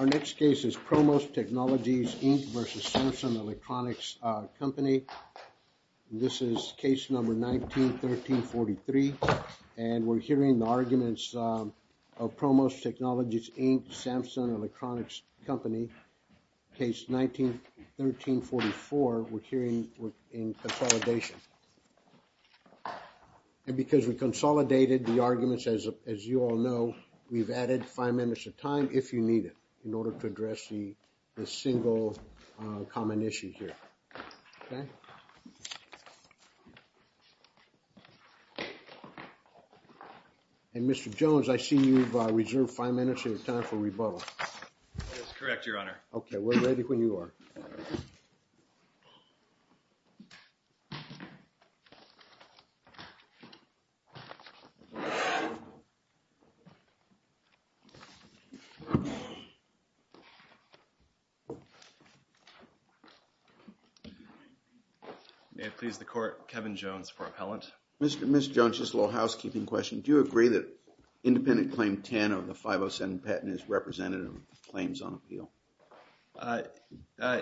Our next case is ProMOS Technologies, Inc. v. Samsung Electronics Co., Ltd. This is case number 19-1343 and we're hearing the arguments of ProMOS Technologies, Inc. v. Samsung Electronics Co., Ltd. case 19-1344, we're hearing in consolidation. And because we consolidated the arguments, as you all know, we've added five minutes of time if you need it in order to address the single common issue here, okay? And, Mr. Jones, I see you've reserved five minutes of your time for rebuttal. That's correct, Your Honor. Okay, we're ready when you are. May it please the Court, Kevin Jones for appellant. Mr. Jones, just a little housekeeping question, do you agree that Independent Claim 10 of the 507 patent is representative of the claims on appeal?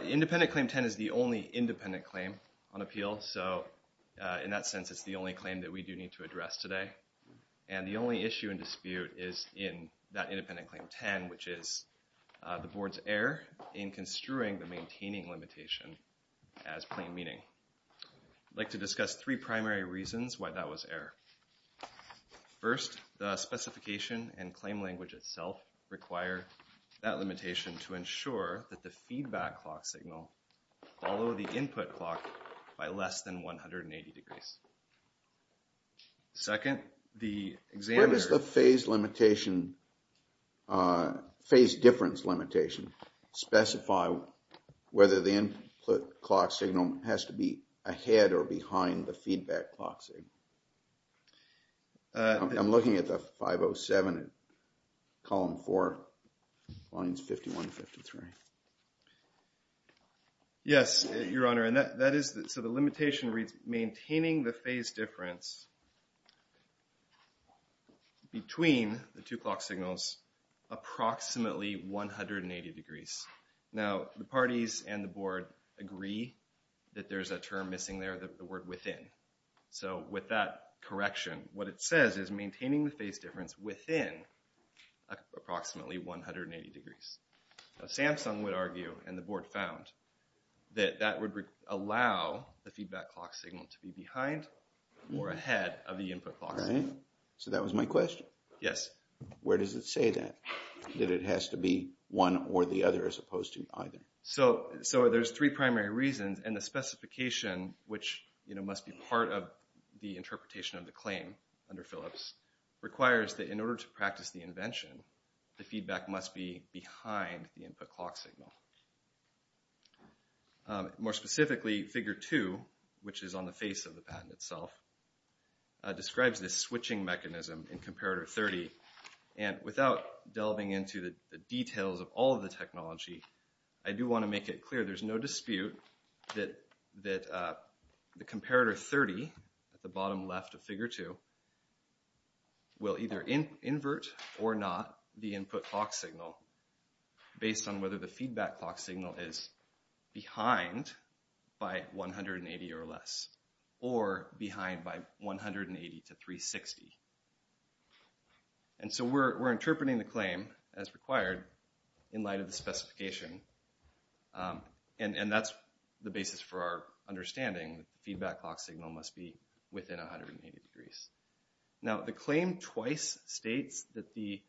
Independent Claim 10 is the only independent claim on appeal, so in that sense it's the only claim that we do need to address today. And the only issue and dispute is in that Independent Claim 10, which is the Board's error in construing the maintaining limitation as plain meaning. I'd like to discuss three primary reasons why that was error. First, the specification and claim language itself require that limitation to ensure that the feedback clock signal follow the input clock by less than 180 degrees. Second, the examiner… Where does the phase limitation, phase difference limitation, specify whether the input clock signal has to be ahead or behind the feedback clock signal? I'm looking at the 507, column 4, lines 51, 53. Yes, Your Honor, and that is, so the limitation reads, maintaining the phase difference between the two clock signals approximately 180 degrees. Now, the parties and the Board agree that there's a term missing there, the word within. So with that correction, what it says is maintaining the phase difference within approximately 180 degrees. Now, Samsung would argue, and the Board found, that that would allow the feedback clock signal to be behind or ahead of the input clock signal. Right. So that was my question? Yes. Where does it say that, that it has to be one or the other as opposed to either? So there's three primary reasons, and the specification, which must be part of the interpretation of the claim under Phillips, requires that in order to practice the invention, the feedback must be behind the input clock signal. More specifically, Figure 2, which is on the face of the patent itself, describes this And without delving into the details of all of the technology, I do want to make it clear there's no dispute that the Comparator 30, at the bottom left of Figure 2, will either invert or not the input clock signal based on whether the feedback clock signal is behind by 180 or less, or behind by 180 to 360. And so we're interpreting the claim as required in light of the specification, and that's the basis for our understanding that the feedback clock signal must be within 180 degrees. Now the claim twice states that the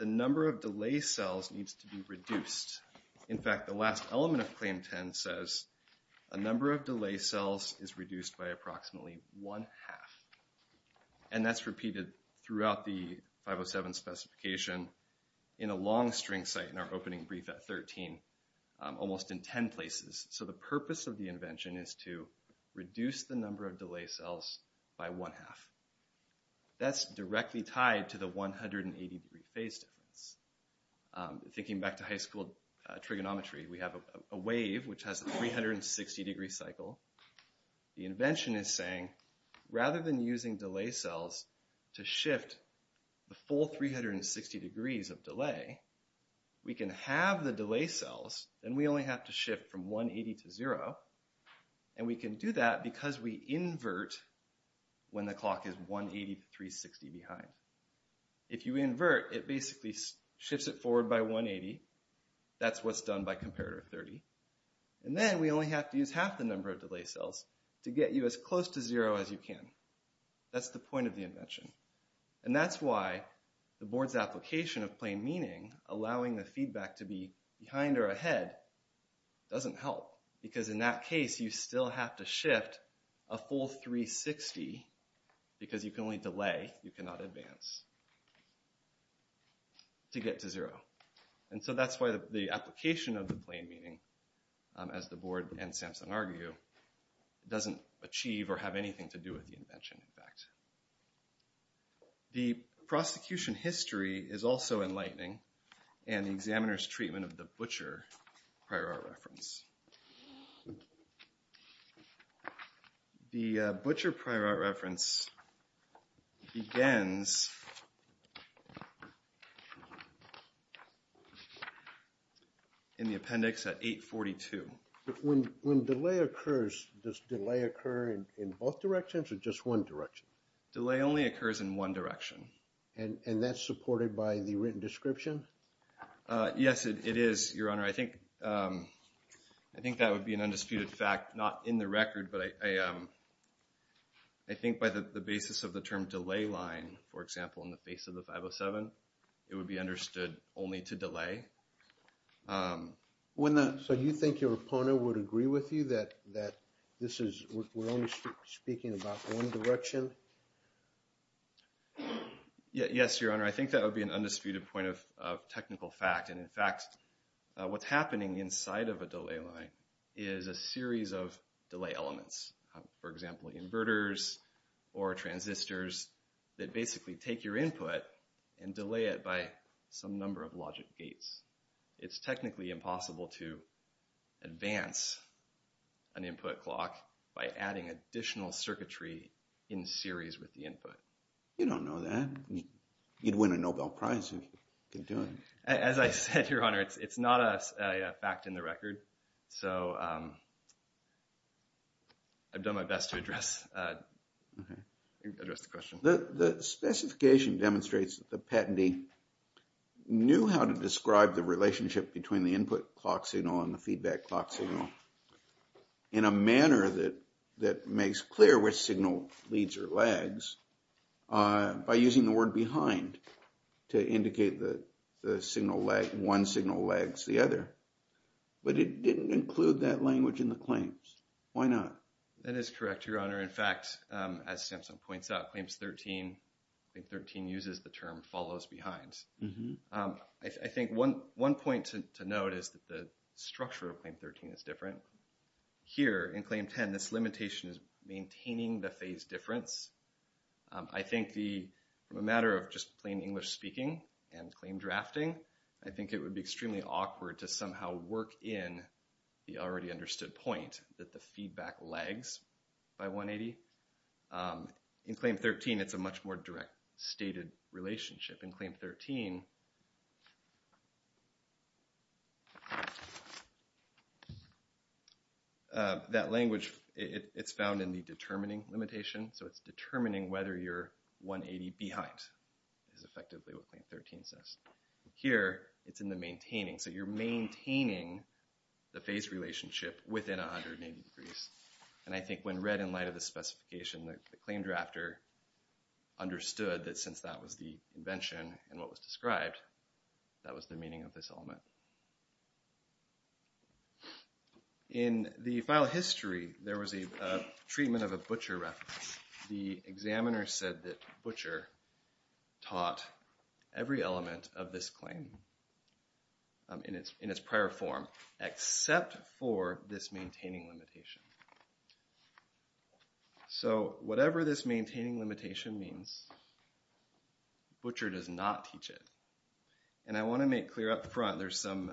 number of delay cells needs to be reduced. In fact, the last element of Claim 10 says a number of delay cells is reduced by approximately one half. And that's repeated throughout the 507 specification in a long string site in our opening brief at 13, almost in 10 places. So the purpose of the invention is to reduce the number of delay cells by one half. That's directly tied to the 180 degree phase difference. Thinking back to high school trigonometry, we have a wave which has a 360 degree cycle. The invention is saying, rather than using delay cells to shift the full 360 degrees of delay, we can halve the delay cells, then we only have to shift from 180 to 0, and we can do that because we invert when the clock is 180 to 360 behind. If you invert, it basically shifts it forward by 180, that's what's done by Comparator 30, and then we only have to use half the number of delay cells to get you as close to zero as you can. That's the point of the invention. And that's why the board's application of plain meaning, allowing the feedback to be behind or ahead, doesn't help. Because in that case, you still have to shift a full 360, because you can only delay, you cannot advance, to get to zero. And so that's why the application of the plain meaning, as the board and Samsung argue, doesn't achieve or have anything to do with the invention, in fact. The prosecution history is also enlightening, and the examiner's treatment of the butcher prior art reference. The butcher prior art reference begins in the appendix at 842. When delay occurs, does delay occur in both directions or just one direction? Delay only occurs in one direction. And that's supported by the written description? Yes, it is, Your Honor. I think that would be an undisputed fact, not in the record, but I think by the basis of the term delay line, for example, in the face of the 507, it would be understood only to delay. So you think your opponent would agree with you that this is, we're only speaking about one direction? Yes, Your Honor. I think that would be an undisputed point of technical fact. And in fact, what's happening inside of a delay line is a series of delay elements. For example, inverters or transistors that basically take your input and delay it by some number of logic gates. It's technically impossible to advance an input clock by adding additional circuitry in series with the input. You don't know that. You'd win a Nobel Prize if you could do it. As I said, Your Honor, it's not a fact in the record. So I've done my best to address the question. The specification demonstrates that the patentee knew how to describe the relationship between the input clock signal and the feedback clock signal in a manner that makes clear which signal lags, one signal lags the other. But it didn't include that language in the claims. Why not? That is correct, Your Honor. In fact, as Samson points out, Claim 13 uses the term follows behind. I think one point to note is that the structure of Claim 13 is different. Here in Claim 10, this limitation is maintaining the phase difference. I think the matter of just plain English speaking and claim drafting, I think it would be extremely awkward to somehow work in the already understood point that the feedback lags by 180. In Claim 13, it's a much more direct stated relationship. In Claim 13, that language, it's found in the determining limitation. So it's determining whether you're 180 behind is effectively what Claim 13 says. Here it's in the maintaining. So you're maintaining the phase relationship within 180 degrees. And I think when read in light of the specification, the claim drafter understood that since that was the invention and what was described, that was the meaning of this element. In the file history, there was a treatment of a butcher reference. The examiner said that butcher taught every element of this claim in its prior form except for this maintaining limitation. So whatever this maintaining limitation means, butcher does not teach it. And I want to make clear up front, there's some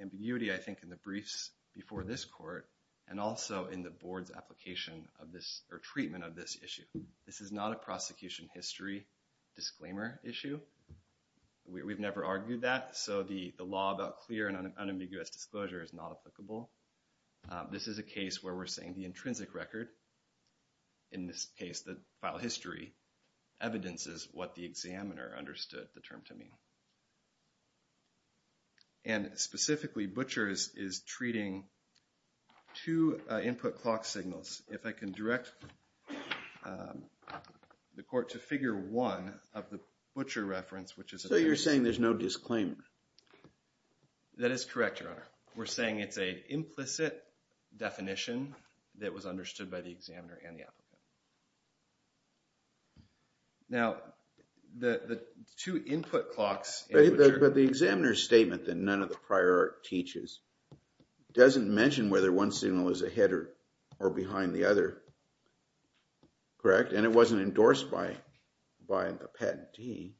ambiguity, I think, in the briefs before this court and also in the board's application of this or treatment of this issue. This is not a prosecution history disclaimer issue. We've never argued that. So the law about clear and unambiguous disclosure is not applicable. This is a case where we're saying the intrinsic record, in this case, the file history, evidences what the examiner understood the term to mean. And specifically, butchers is treating two input clock signals. If I can direct the court to figure one of the butcher reference, which is a... So you're saying there's no disclaimer? That is correct, Your Honor. We're saying it's an implicit definition that was understood by the examiner and the applicant. Now, the two input clocks... But the examiner's statement that none of the prior art teaches doesn't mention whether one signal is ahead or behind the other, correct? And it wasn't endorsed by the patentee.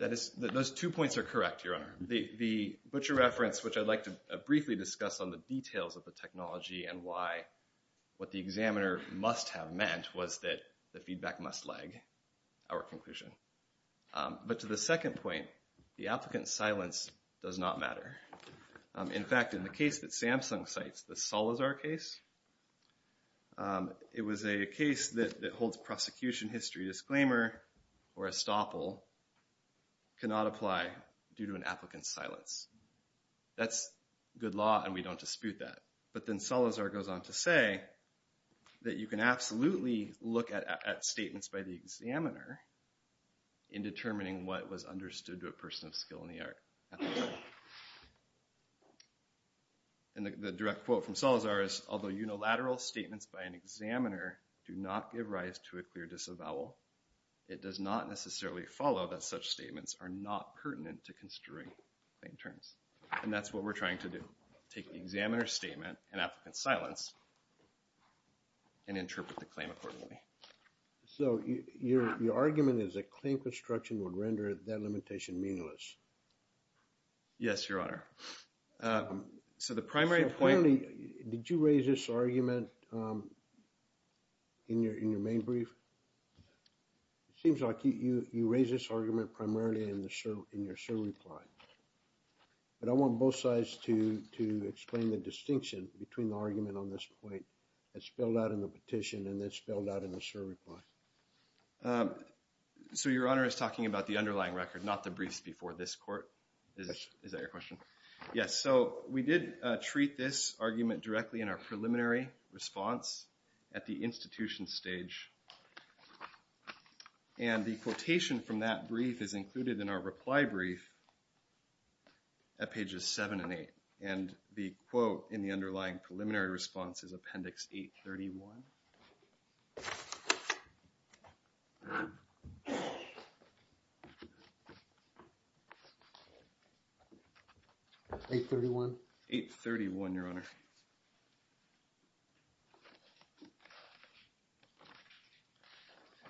Those two points are correct, Your Honor. The butcher reference, which I'd like to briefly discuss on the details of the technology and why what the examiner must have meant was that the feedback must lag, our conclusion. But to the second point, the applicant's silence does not matter. In fact, in the case that Samsung cites, the Salazar case, it was a case that holds prosecution history disclaimer, or estoppel, cannot apply due to an applicant's silence. That's good law and we don't dispute that. But then Salazar goes on to say that you can absolutely look at statements by the examiner in determining what was understood to a person of skill in the art. And the direct quote from Salazar is, although unilateral statements by an examiner do not give rise to a clear disavowal, it does not necessarily follow that such statements are not pertinent to construing plaintiffs. And that's what we're trying to do. Take the examiner's statement and applicant's silence and interpret the claim accordingly. So your argument is that claim construction would render that limitation meaningless? Yes, Your Honor. So the primary point... So clearly, did you raise this argument in your main brief? It seems like you raised this argument primarily in your server reply. But I want both sides to explain the distinction between the argument on this point that's spelled out in the petition and that's spelled out in the server reply. So Your Honor is talking about the underlying record, not the briefs before this court? Is that your question? Yes. So we did treat this argument directly in our preliminary response at the institution stage. And the quotation from that brief is included in our reply brief at pages 7 and 8. And the quote in the underlying preliminary response is Appendix 831. 831? 831, Your Honor.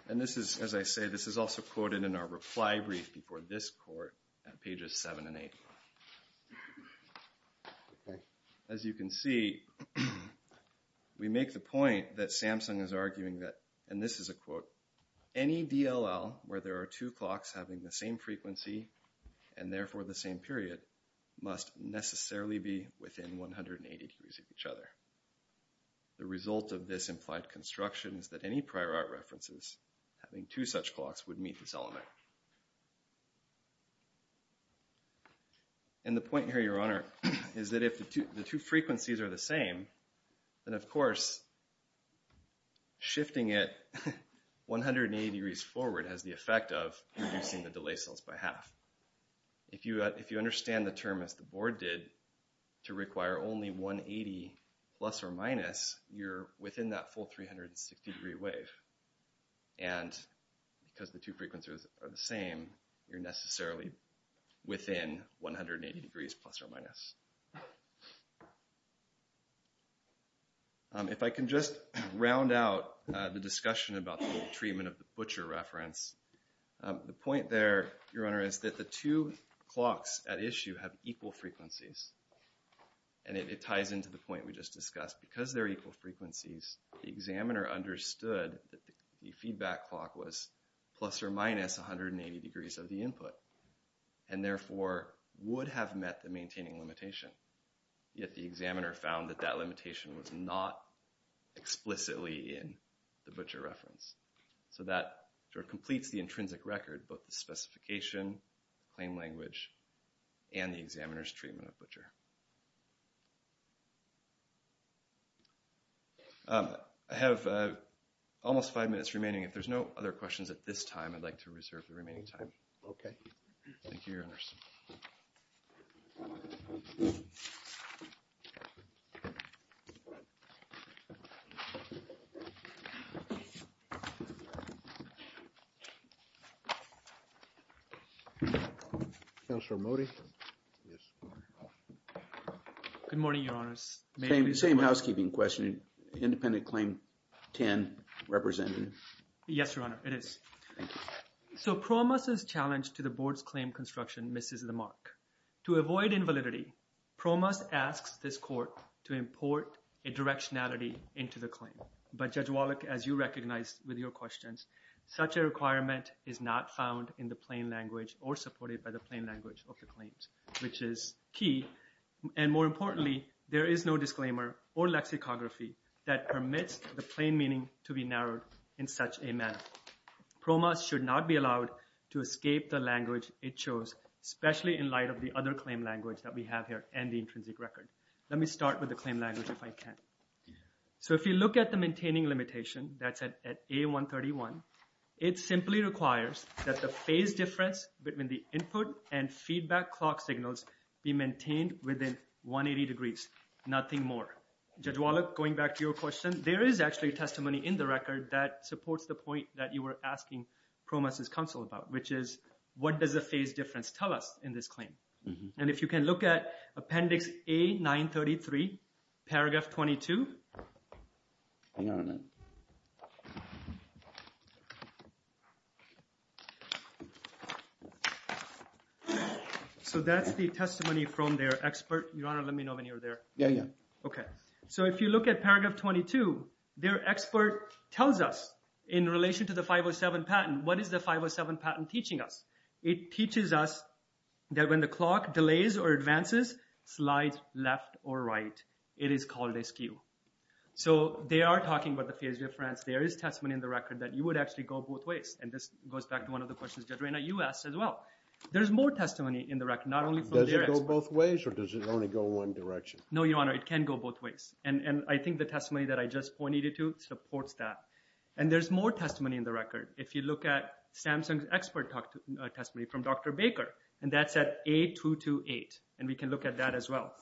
And this is, as I say, this is also quoted in our reply brief before this court at pages 7 and 8. As you can see, we make the point that Samsung is arguing that, and this is a quote, any DLL where there are two clocks having the same frequency and therefore the same period must necessarily be within 180 degrees of each other. The result of this implied construction is that any prior art references having two such clocks would meet this element. And the point here, Your Honor, is that if the two frequencies are the same, then of course shifting it 180 degrees forward has the effect of reducing the delay cells by half. If you understand the term as the board did, to require only 180 plus or minus, you're within that full 360 degree wave. And because the two frequencies are the same, you're necessarily within 180 degrees plus or minus. If I can just round out the discussion about the treatment of the butcher reference, the two clocks at issue have equal frequencies, and it ties into the point we just discussed. Because they're equal frequencies, the examiner understood that the feedback clock was plus or minus 180 degrees of the input, and therefore would have met the maintaining limitation. Yet the examiner found that that limitation was not explicitly in the butcher reference. So that sort of completes the intrinsic record, both the specification, claim language, and the examiner's treatment of butcher. I have almost five minutes remaining. If there's no other questions at this time, I'd like to reserve the remaining time. Okay. Thank you, Your Honors. Counselor Modi? Yes. Good morning, Your Honors. Same housekeeping question. Independent claim 10, representative. Yes, Your Honor, it is. Thank you. So PROMOS' challenge to the board's claim construction misses the mark. To avoid invalidity, PROMOS asks this court to import a directionality into the claim. But Judge Wallach, as you recognized with your questions, such a requirement is not found in the plain language or supported by the plain language of the claims, which is key. And more importantly, there is no disclaimer or lexicography that permits the plain meaning to be narrowed in such a manner. PROMOS should not be allowed to escape the language it chose, especially in light of the other claim language that we have here and the intrinsic record. Let me start with the claim language if I can. So if you look at the maintaining limitation that's at A131, it simply requires that the phase difference between the input and feedback clock signals be maintained within 180 degrees, nothing more. Judge Wallach, going back to your question, there is actually testimony in the record that supports the point that you were asking PROMOS' counsel about, which is what does the phase difference tell us in this claim? And if you can look at Appendix A933, Paragraph 22. So that's the testimony from their expert. Your Honor, let me know when you're there. Yeah, yeah. Okay. So if you look at Paragraph 22, their expert tells us in relation to the 507 patent, what is the 507 patent teaching us? It teaches us that when the clock delays or advances, slides left or right, it is called askew. So they are talking about the phase difference. There is testimony in the record that you would actually go both ways. And this goes back to one of the questions Judge Reyna, you asked as well. There's more testimony in the record, not only from their expert. Does it go both ways or does it only go one direction? No, Your Honor, it can go both ways. And I think the testimony that I just pointed to supports that. And there's more testimony in the record. If you look at Samsung's expert testimony from Dr. Baker, and that's at A228. And we can look at that as well.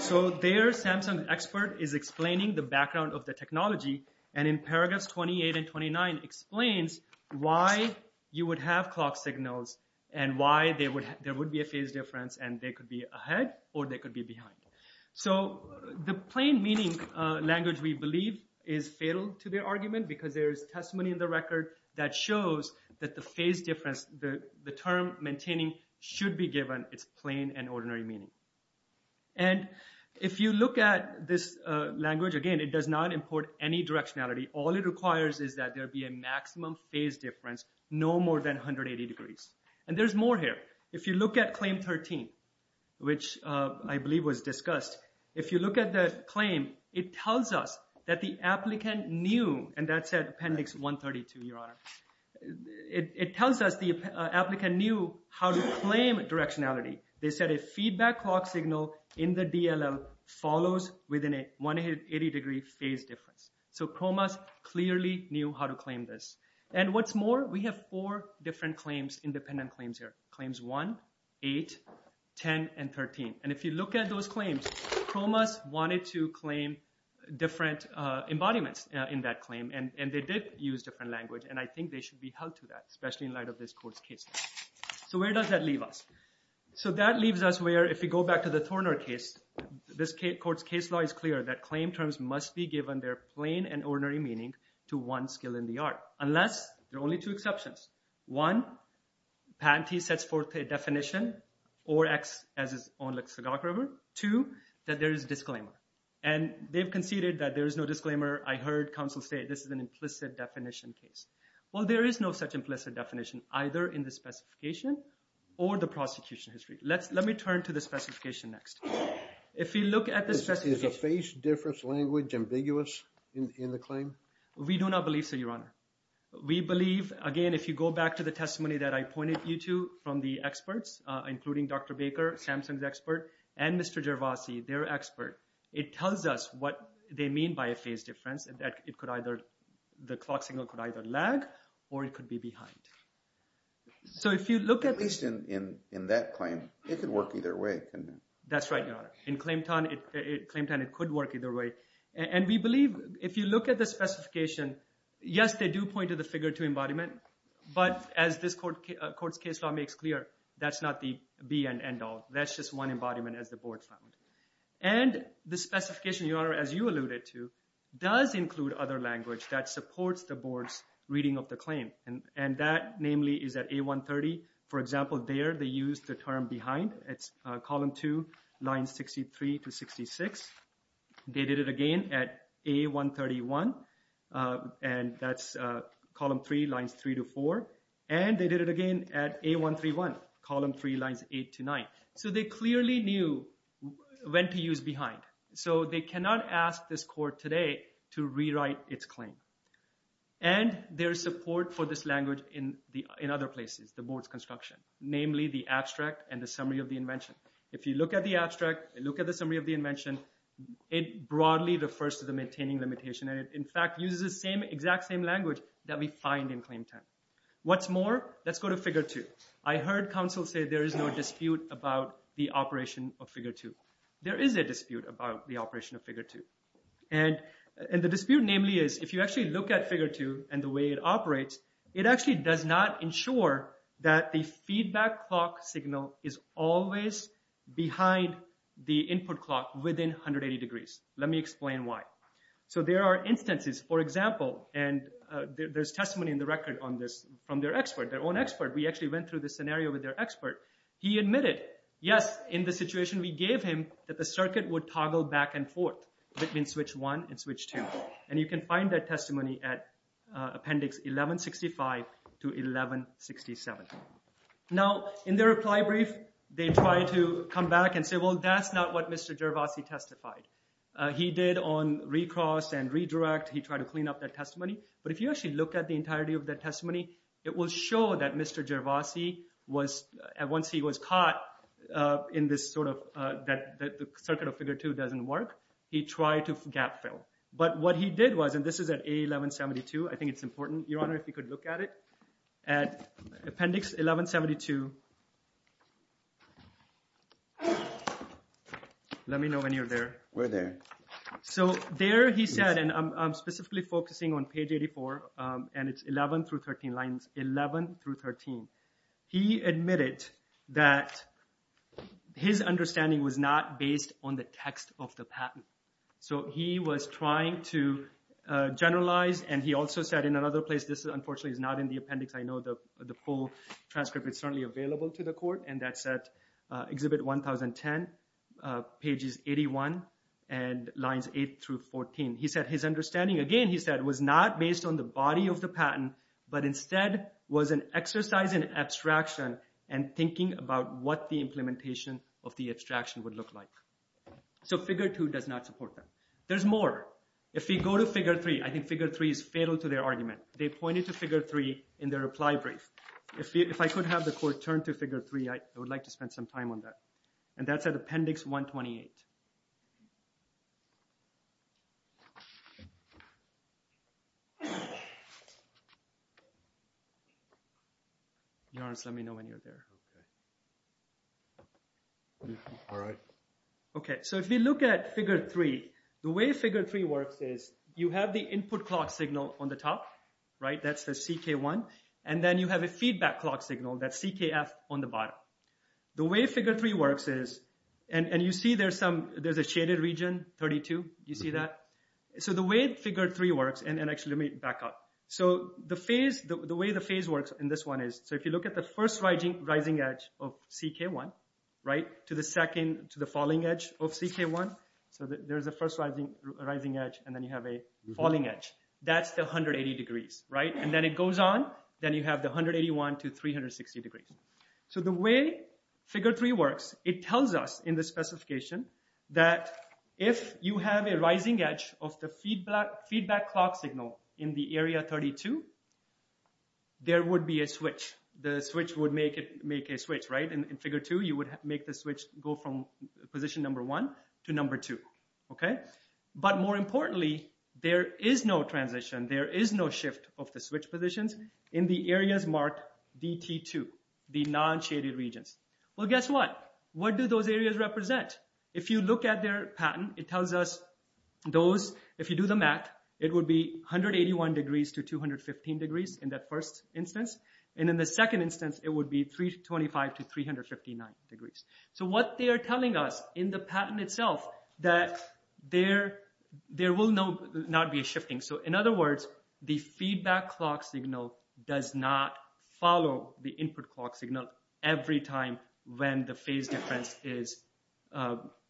So their Samsung expert is explaining the background of the technology. And in Paragraphs 28 and 29 explains why you would have clock signals and why there would be a phase difference and they could be ahead or they could be behind. So the plain meaning language we believe is fatal to their argument because there is testimony in the record that shows that the phase difference, the term maintaining should be given its plain and ordinary meaning. And if you look at this language, again, it does not import any directionality. All it requires is that there be a maximum phase difference no more than 180 degrees. And there's more here. If you look at Claim 13, which I believe was discussed, if you look at the claim, it tells us that the applicant knew, and that's at Appendix 132, Your Honor, it tells us the applicant knew how to claim directionality. They said a feedback clock signal in the DLL follows within a 180-degree phase difference. So PROMAS clearly knew how to claim this. And what's more, we have four different claims, independent claims here. Claims 1, 8, 10, and 13. And if you look at those claims, PROMAS wanted to claim different embodiments in that claim. And they did use different language. And I think they should be held to that, especially in light of this court's case. So where does that leave us? So that leaves us where, if we go back to the Thorner case, this court's case law is clear that claim terms must be given their plain and ordinary meaning to one skill in the art, unless there are only two exceptions. One, patentee sets forth a definition or acts as his own lexicographer. Two, that there is a disclaimer. And they've conceded that there is no disclaimer. I heard counsel say this is an implicit definition case. Well, there is no such implicit definition, either in the specification or the prosecution history. Let me turn to the specification next. If you look at the specification. Is a phase difference language ambiguous in the claim? We do not believe so, Your Honor. We believe, again, if you go back to the testimony that I pointed you to from the experts, including Dr. Baker, Samson's expert, and Mr. Gervasi, their expert, it tells us what they mean by a phase difference, that it could either, the clock signal could either lag or it could be behind. At least in that claim, it could work either way, couldn't it? That's right, Your Honor. In claim time, it could work either way. And we believe if you look at the specification, yes, they do point to the figure 2 embodiment. But as this court's case law makes clear, that's not the be and end all. That's just one embodiment as the board found. And the specification, Your Honor, as you alluded to, does include other language that supports the board's reading of the claim. And that, namely, is at A130. For example, there they used the term behind. It's column 2, lines 63 to 66. They did it again at A131, and that's column 3, lines 3 to 4. And they did it again at A131, column 3, lines 8 to 9. So they clearly knew when to use behind. So they cannot ask this court today to rewrite its claim. And there's support for this language in other places, the board's construction, namely the abstract and the summary of the invention. If you look at the abstract and look at the summary of the invention, it broadly refers to the maintaining limitation. And it, in fact, uses the exact same language that we find in claim 10. What's more, let's go to figure 2. I heard counsel say there is no dispute about the operation of figure 2. There is a dispute about the operation of figure 2. And the dispute, namely, is if you actually look at figure 2 and the way it operates, it actually does not ensure that the feedback clock signal is always behind the input clock within 180 degrees. Let me explain why. So there are instances, for example, and there's testimony in the record on this from their expert, their own expert. We actually went through this scenario with their expert. He admitted, yes, in the situation we gave him, that the circuit would toggle back and forth between switch 1 and switch 2. And you can find that testimony at appendix 1165 to 1167. Now, in their reply brief, they try to come back and say, well, that's not what Mr. Gervasi testified. He did on recross and redirect, he tried to clean up that testimony. But if you actually look at the entirety of that testimony, it will show that Mr. Gervasi was, once he was caught in this sort of, that the circuit of figure 2 doesn't work, he tried to gap fill. But what he did was, and this is at A1172, I think it's important, Your Honor, if you could look at it. At appendix 1172, let me know when you're there. We're there. So there he said, and I'm specifically focusing on page 84, and it's 11 through 13 lines, 11 through 13. He admitted that his understanding was not based on the text of the patent. So he was trying to generalize, and he also said in another place, this unfortunately is not in the appendix. I know the full transcript is certainly available to the court, and that's at Exhibit 1010, pages 81 and lines 8 through 14. He said his understanding, again, he said, was not based on the body of the patent, but instead was an exercise in abstraction and thinking about what the implementation of the abstraction would look like. So figure 2 does not support that. There's more. If we go to figure 3, I think figure 3 is fatal to their argument. They pointed to figure 3 in their reply brief. If I could have the court turn to figure 3, I would like to spend some time on that. And that's at appendix 128. Your Honor, just let me know when you're there. Okay. All right. Okay, so if we look at figure 3, the way figure 3 works is you have the input clock signal on the top, right? That's the CK1, and then you have a feedback clock signal, that's CKF, on the bottom. The way figure 3 works is, and you see there's a shaded region, 32. Do you see that? So the way figure 3 works, and actually let me back up. So the way the phase works in this one is, so if you look at the first rising edge of CK1, right, to the falling edge of CK1, so there's a first rising edge, and then you have a falling edge. That's the 180 degrees, right? And then it goes on. Then you have the 181 to 360 degrees. So the way figure 3 works, it tells us in the specification that if you have a rising edge of the feedback clock signal in the area 32, there would be a switch. The switch would make a switch, right? In figure 2, you would make the switch go from position number 1 to number 2, okay? But more importantly, there is no transition. There is no shift of the switch positions in the areas marked DT2, the non-shaded regions. Well, guess what? What do those areas represent? If you look at their patent, it tells us those, if you do the math, it would be 181 degrees to 215 degrees in that first instance, and in the second instance, it would be 325 to 359 degrees. So what they are telling us in the patent itself that there will not be a shifting. So in other words, the feedback clock signal does not follow the input clock signal every time when the phase difference is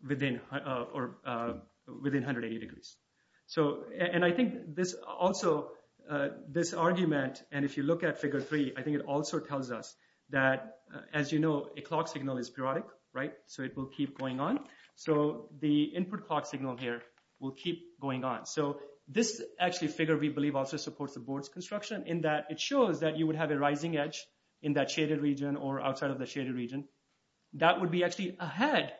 within 180 degrees. So, and I think this also, this argument, and if you look at figure 3, I think it also tells us that, as you know, a clock signal is periodic, right? So it will keep going on. So the input clock signal here will keep going on. So this actually figure, we believe, also supports the board's construction in that it shows that you would have a rising edge in that shaded region or outside of the shaded region. That would be actually ahead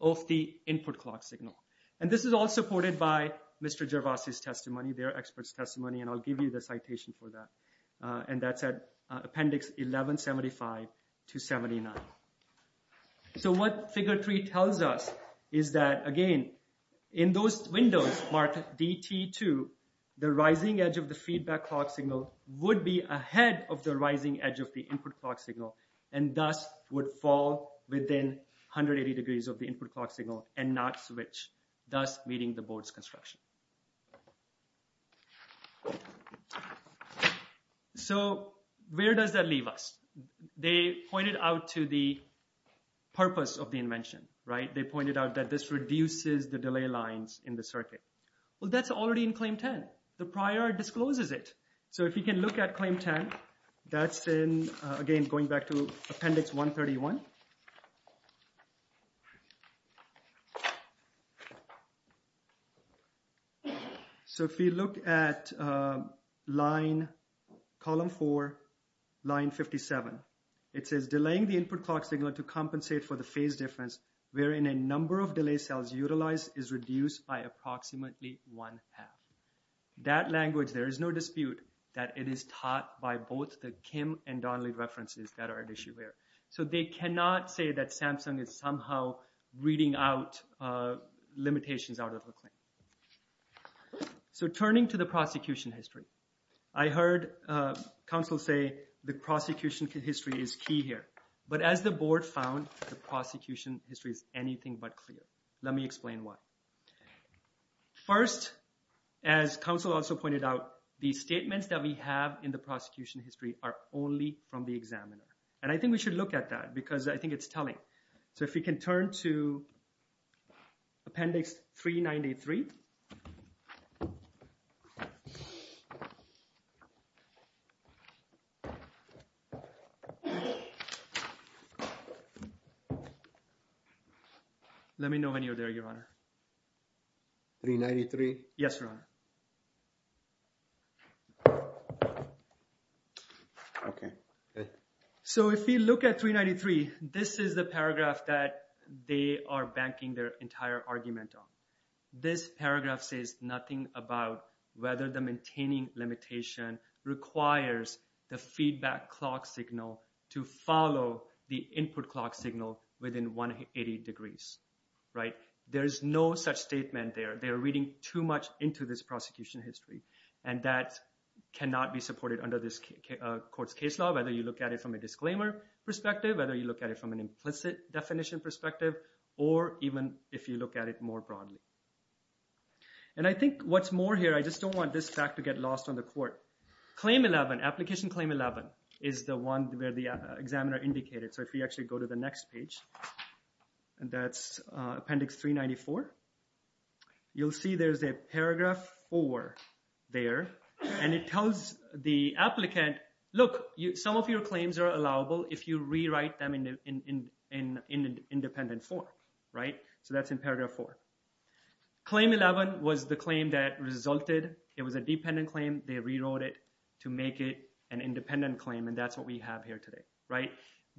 of the input clock signal. And this is all supported by Mr. Gervasi's testimony, their expert's testimony, and I'll give you the citation for that. And that's at appendix 1175 to 79. So what figure 3 tells us is that, again, in those windows marked DT2, the rising edge of the feedback clock signal would be ahead of the rising edge of the input clock signal and thus would fall within 180 degrees of the input clock signal and not switch, thus meeting the board's construction. So where does that leave us? They pointed out to the purpose of the invention, right? They pointed out that this reduces the delay lines in the circuit. Well, that's already in claim 10. The prior discloses it. So if you can look at claim 10, that's in, again, going back to appendix 131. So if you look at line, column 4, line 57, it says delaying the input clock signal to compensate for the phase difference wherein a number of delay cells utilized is reduced by approximately one half. That language, there is no dispute that it is taught by both the Kim and Donnelly references that are at issue there. So they cannot say that Samsung is somehow reading out limitations out of the claim. So turning to the prosecution history, I heard counsel say the prosecution history is key here. But as the board found, the prosecution history is anything but clear. Let me explain why. First, as counsel also pointed out, the statements that we have in the prosecution history are only from the examiner. And I think we should look at that because I think it's telling. So if we can turn to appendix 393. Let me know when you're there, Your Honor. Yes, Your Honor. Okay. So if you look at 393, this is the paragraph that they are banking their entire argument on. This paragraph says nothing about whether the maintaining limitation requires the feedback clock signal to follow the input clock signal within 180 degrees. Right? There is no such statement there. They are reading too much into this prosecution history. And that cannot be supported under this court's case law, whether you look at it from a disclaimer perspective, whether you look at it from an implicit definition perspective, or even if you look at it more broadly. And I think what's more here, I just don't want this fact to get lost on the court. Claim 11, application claim 11, is the one where the examiner indicated. So if we actually go to the next page, and that's appendix 394, you'll see there's a paragraph 4 there. And it tells the applicant, look, some of your claims are allowable if you rewrite them in independent form. Right? So that's in paragraph 4. Claim 11 was the claim that resulted. It was a dependent claim. They rewrote it to make it an independent claim. And that's what we have here today. Right?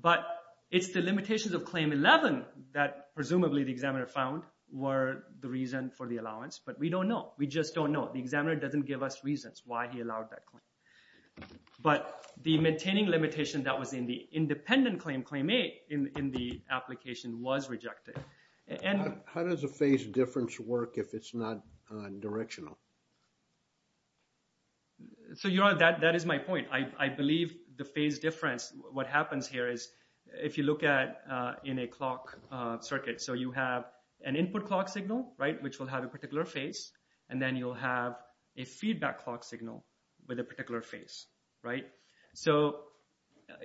But it's the limitations of claim 11 that presumably the examiner found were the reason for the allowance. But we don't know. We just don't know. The examiner doesn't give us reasons why he allowed that claim. But the maintaining limitation that was in the independent claim, claim 8, in the application was rejected. How does a phase difference work if it's not directional? So that is my point. I believe the phase difference, what happens here is if you look at in a clock circuit, so you have an input clock signal, right, which will have a particular phase, and then you'll have a feedback clock signal with a particular phase. Right?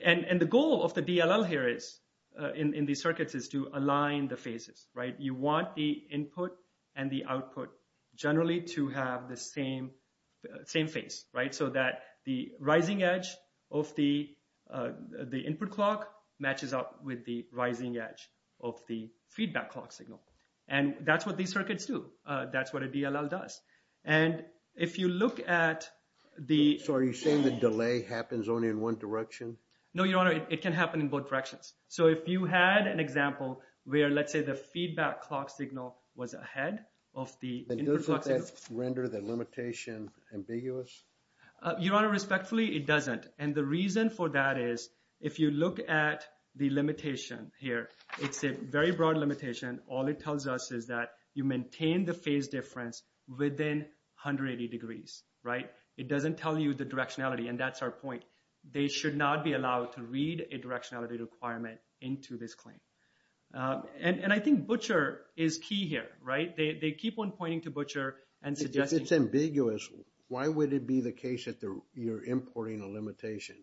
And the goal of the DLL here is, in these circuits, is to align the phases. Right? You want the input and the output generally to have the same phase. Right? So that the rising edge of the input clock matches up with the rising edge of the feedback clock signal. And that's what these circuits do. That's what a DLL does. And if you look at the… So are you saying the delay happens only in one direction? No, Your Honor. It can happen in both directions. So if you had an example where, let's say, the feedback clock signal was ahead of the input clock signal… Your Honor, respectfully, it doesn't. And the reason for that is if you look at the limitation here, it's a very broad limitation. All it tells us is that you maintain the phase difference within 180 degrees. Right? It doesn't tell you the directionality. And that's our point. They should not be allowed to read a directionality requirement into this claim. And I think Butcher is key here. Right? They keep on pointing to Butcher and suggesting… that you're importing a limitation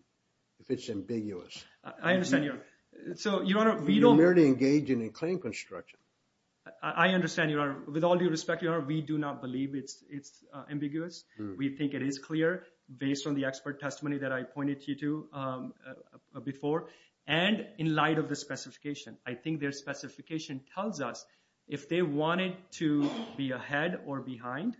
if it's ambiguous. I understand, Your Honor. So, Your Honor, we don't… We merely engage in a claim construction. I understand, Your Honor. With all due respect, Your Honor, we do not believe it's ambiguous. We think it is clear based on the expert testimony that I pointed you to before. And in light of the specification. I think their specification tells us if they wanted to be ahead or behind.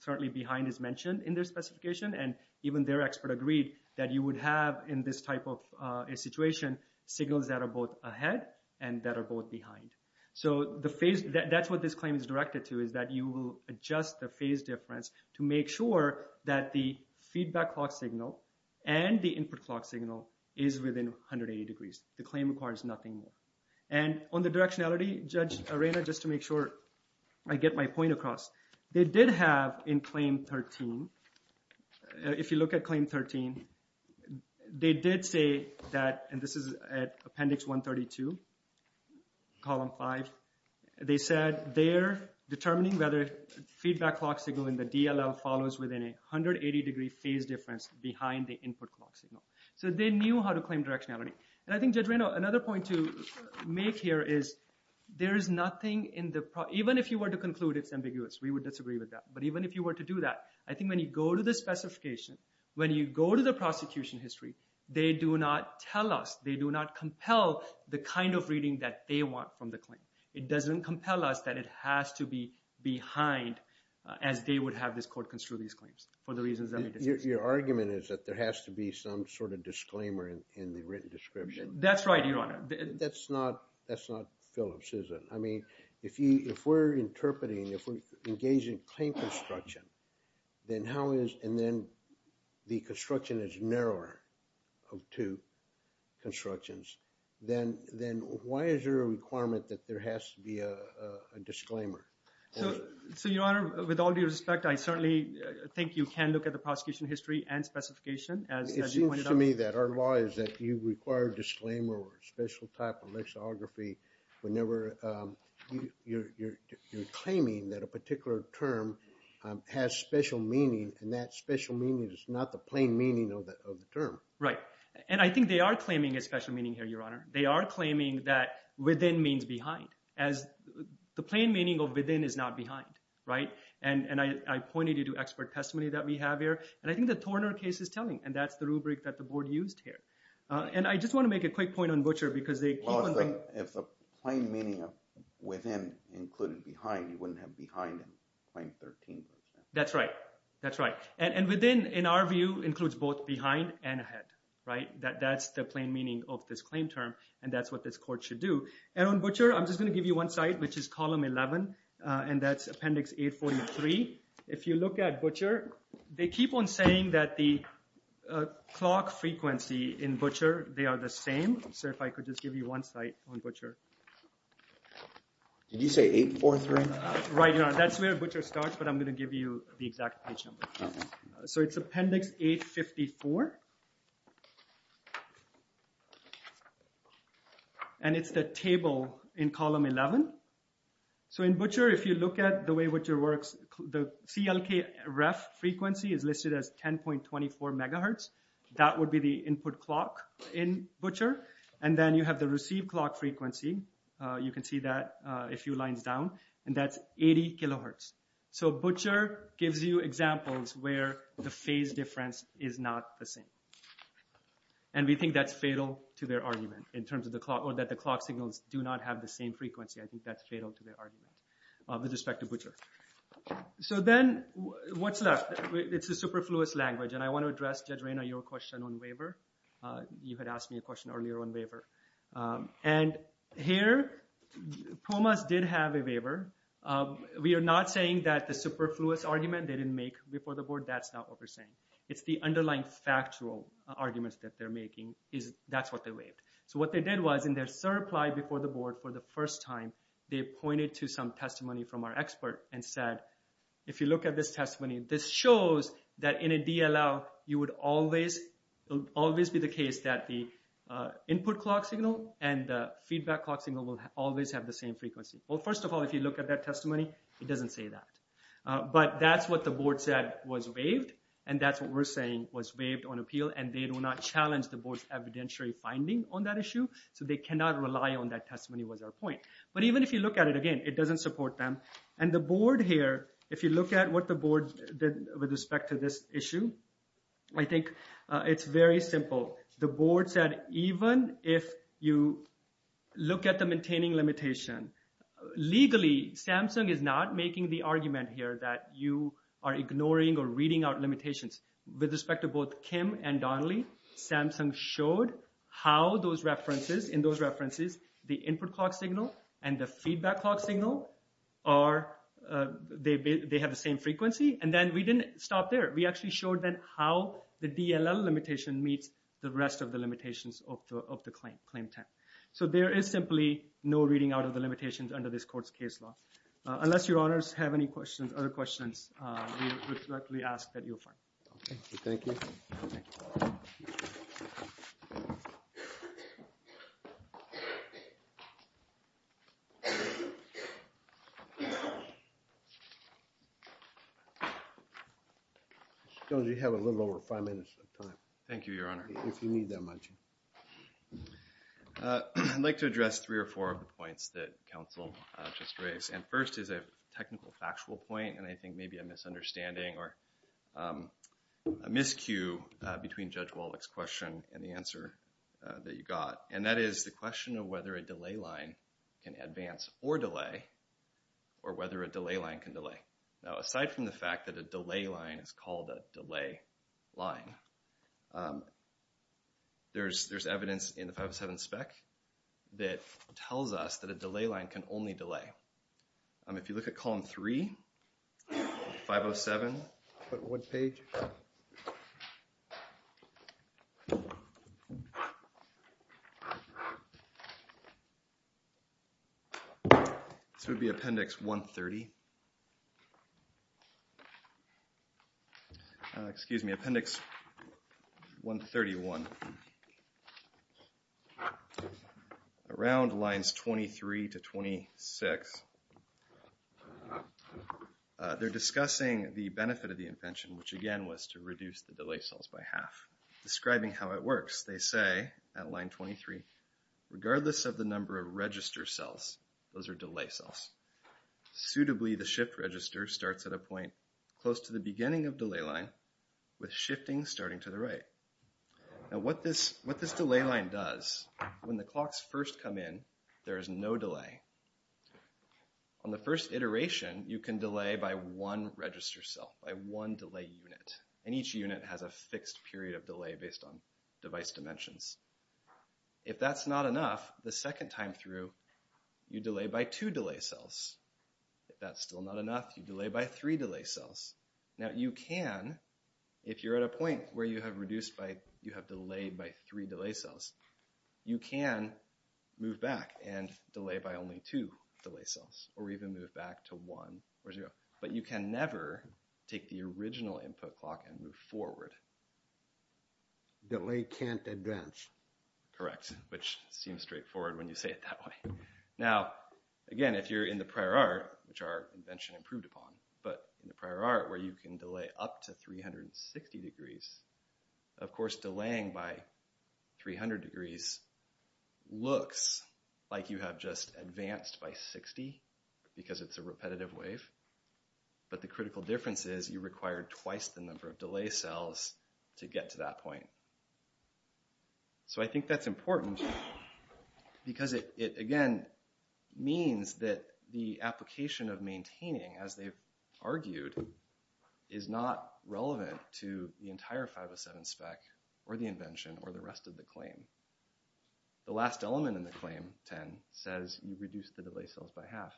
Certainly, behind is mentioned in their specification. And even their expert agreed that you would have in this type of a situation, signals that are both ahead and that are both behind. So, the phase… That's what this claim is directed to is that you will adjust the phase difference to make sure that the feedback clock signal and the input clock signal is within 180 degrees. The claim requires nothing more. And on the directionality, Judge Arena, just to make sure I get my point across, they did have in Claim 13… If you look at Claim 13, they did say that… And this is at Appendix 132, Column 5. They said they're determining whether feedback clock signal in the DLL follows within a 180-degree phase difference behind the input clock signal. So, they knew how to claim directionality. And I think, Judge Arena, another point to make here is there is nothing in the… Even if you were to conclude it's ambiguous, we would disagree with that. But even if you were to do that, I think when you go to the specification, when you go to the prosecution history, they do not tell us, they do not compel the kind of reading that they want from the claim. It doesn't compel us that it has to be behind as they would have this court construe these claims for the reasons that we discussed. Your argument is that there has to be some sort of disclaimer in the written description. That's right, Your Honor. That's not Phillips, is it? I mean, if we're interpreting, if we're engaging claim construction, then how is… and then the construction is narrower of two constructions, then why is there a requirement that there has to be a disclaimer? So, Your Honor, with all due respect, I certainly think you can look at the prosecution history and specification. It seems to me that our law is that you require a disclaimer or a special type of lexicography whenever you're claiming that a particular term has special meaning and that special meaning is not the plain meaning of the term. Right, and I think they are claiming a special meaning here, Your Honor. They are claiming that within means behind. The plain meaning of within is not behind, right? And I pointed you to expert testimony that we have here, and I think the Torner case is telling, and that's the rubric that the board used here. And I just want to make a quick point on Butcher because they… Well, if the plain meaning of within included behind, you wouldn't have behind in Claim 13. That's right. That's right. And within, in our view, includes both behind and ahead, right? That's the plain meaning of this claim term, and that's what this court should do. And on Butcher, I'm just going to give you one site, which is Column 11, and that's Appendix 843. If you look at Butcher, they keep on saying that the clock frequency in Butcher, they are the same. Sir, if I could just give you one site on Butcher. Did you say 843? Right, Your Honor. That's where Butcher starts, but I'm going to give you the exact page number. So it's Appendix 854, and it's the table in Column 11. So in Butcher, if you look at the way Butcher works, the CLKREF frequency is listed as 10.24 megahertz. That would be the input clock in Butcher. And then you have the received clock frequency. You can see that a few lines down, and that's 80 kilohertz. So Butcher gives you examples where the phase difference is not the same. And we think that's fatal to their argument in terms of the clock, or that the clock signals do not have the same frequency. I think that's fatal to their argument with respect to Butcher. So then what's left? It's a superfluous language, and I want to address, Judge Reyna, your question on waiver. You had asked me a question earlier on waiver. And here, PUMAS did have a waiver. We are not saying that the superfluous argument they didn't make before the board, that's not what we're saying. It's the underlying factual arguments that they're making, that's what they waived. So what they did was, in their third reply before the board for the first time, they pointed to some testimony from our expert and said, if you look at this testimony, this shows that in a DLL, it would always be the case that the input clock signal and the feedback clock signal will always have the same frequency. Well, first of all, if you look at that testimony, it doesn't say that. But that's what the board said was waived, and that's what we're saying was waived on appeal, and they do not challenge the board's evidentiary finding on that issue. So they cannot rely on that testimony was our point. But even if you look at it again, it doesn't support them. And the board here, if you look at what the board did with respect to this issue, I think it's very simple. The board said, even if you look at the maintaining limitation, legally, Samsung is not making the argument here that you are ignoring or reading out limitations. With respect to both Kim and Donnelly, Samsung showed how those references, in those references, the input clock signal and the feedback clock signal, they have the same frequency. And then we didn't stop there. We actually showed them how the DLL limitation meets the rest of the limitations of the claim time. So there is simply no reading out of the limitations under this court's case law. Unless your honors have any questions, other questions, we would directly ask that you affirm. Okay. Thank you. Thank you. Thank you. Jones, you have a little over five minutes of time. Thank you, your honor. If you need that much. I'd like to address three or four of the points that counsel just raised. And first is a technical factual point, and I think maybe a misunderstanding or a miscue between Judge Wallach's question and the answer that you got. And that is the question of whether a delay line can advance or delay, or whether a delay line can delay. Now, aside from the fact that a delay line is called a delay line, there's evidence in the 507 spec that tells us that a delay line can only delay. If you look at Column 3, 507, what page? This would be Appendix 130. Excuse me, Appendix 131. Around lines 23 to 26, they're discussing the benefit of the invention, which, again, was to reduce the delay cells by half. Describing how it works, they say at line 23, regardless of the number of register cells, those are delay cells, suitably the shift register starts at a point close to the beginning of delay line with shifting starting to the right. Now, what this delay line does, when the clocks first come in, there is no delay. On the first iteration, you can delay by one register cell, by one delay unit, and each unit has a fixed period of delay based on device dimensions. If that's not enough, the second time through, you delay by two delay cells. If that's still not enough, you delay by three delay cells. Now, you can, if you're at a point where you have delayed by three delay cells, you can move back and delay by only two delay cells, or even move back to one or zero. But you can never take the original input clock and move forward. Delay can't advance. Correct, which seems straightforward when you say it that way. Now, again, if you're in the prior art, which our invention improved upon, but in the prior art, where you can delay up to 360 degrees, of course, delaying by 300 degrees looks like you have just advanced by 60, because it's a repetitive wave. But the critical difference is you require twice the number of delay cells to get to that point. So I think that's important, because it, again, means that the application of maintaining, as they've argued, is not relevant to the entire 507 spec, or the invention, or the rest of the claim. The last element in the claim, 10, says you reduce the delay cells by half.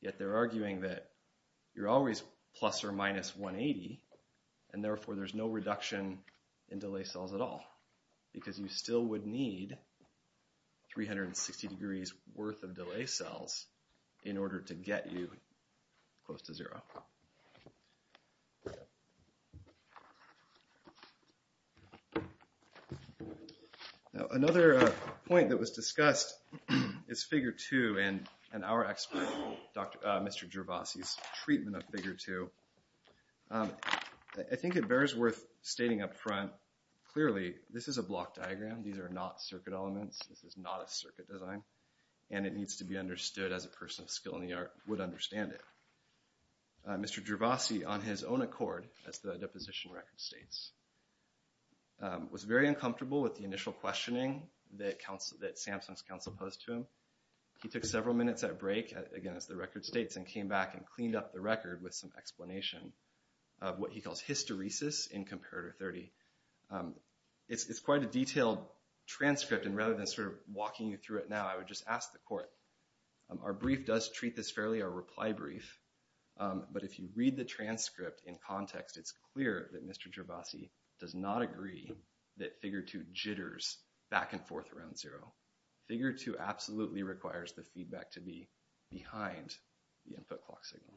Yet they're arguing that you're always plus or minus 180, and therefore there's no reduction in delay cells at all, because you still would need 360 degrees worth of delay cells in order to get you close to zero. Now, another point that was discussed is figure two, and our expert, Mr. Gervasi's treatment of figure two. I think it bears worth stating up front, clearly, this is a block diagram. These are not circuit elements. This is not a circuit design. And it needs to be understood as a person of skill in the art would understand it. Mr. Gervasi, on his own accord, as the deposition record states, was very uncomfortable with the initial questioning that Samsung's counsel posed to him. He took several minutes at break, again, as the record states, and came back and cleaned up the record with some explanation of what he calls hysteresis in Comparator 30. It's quite a detailed transcript, and rather than walking you through it now, I would just ask the court. Our brief does treat this fairly, our reply brief, but if you read the transcript in context, it's clear that Mr. Gervasi does not agree that figure two jitters back and forth around zero. Figure two absolutely requires the feedback to be behind the input clock signal.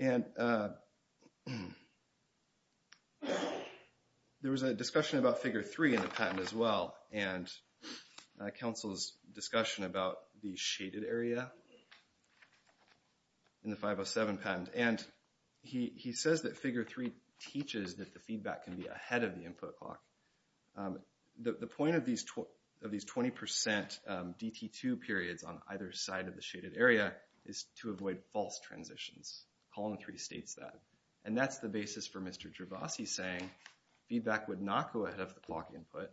And there was a discussion about figure three in the patent as well, and counsel's discussion about the shaded area in the 507 patent. And he says that figure three teaches that the feedback can be ahead of the input clock. The point of these 20% DT2 periods on either side of the shaded area is to avoid false transitions. Column three states that. And that's the basis for Mr. Gervasi saying feedback would not go ahead of the clock input,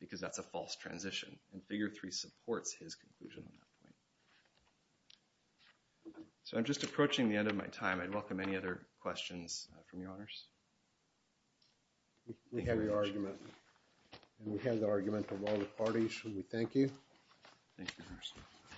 because that's a false transition, and figure three supports his conclusion on that point. So I'm just approaching the end of my time. I'd welcome any other questions from your honors. We have your argument, and we have the argument of all the parties. We thank you. Thank you.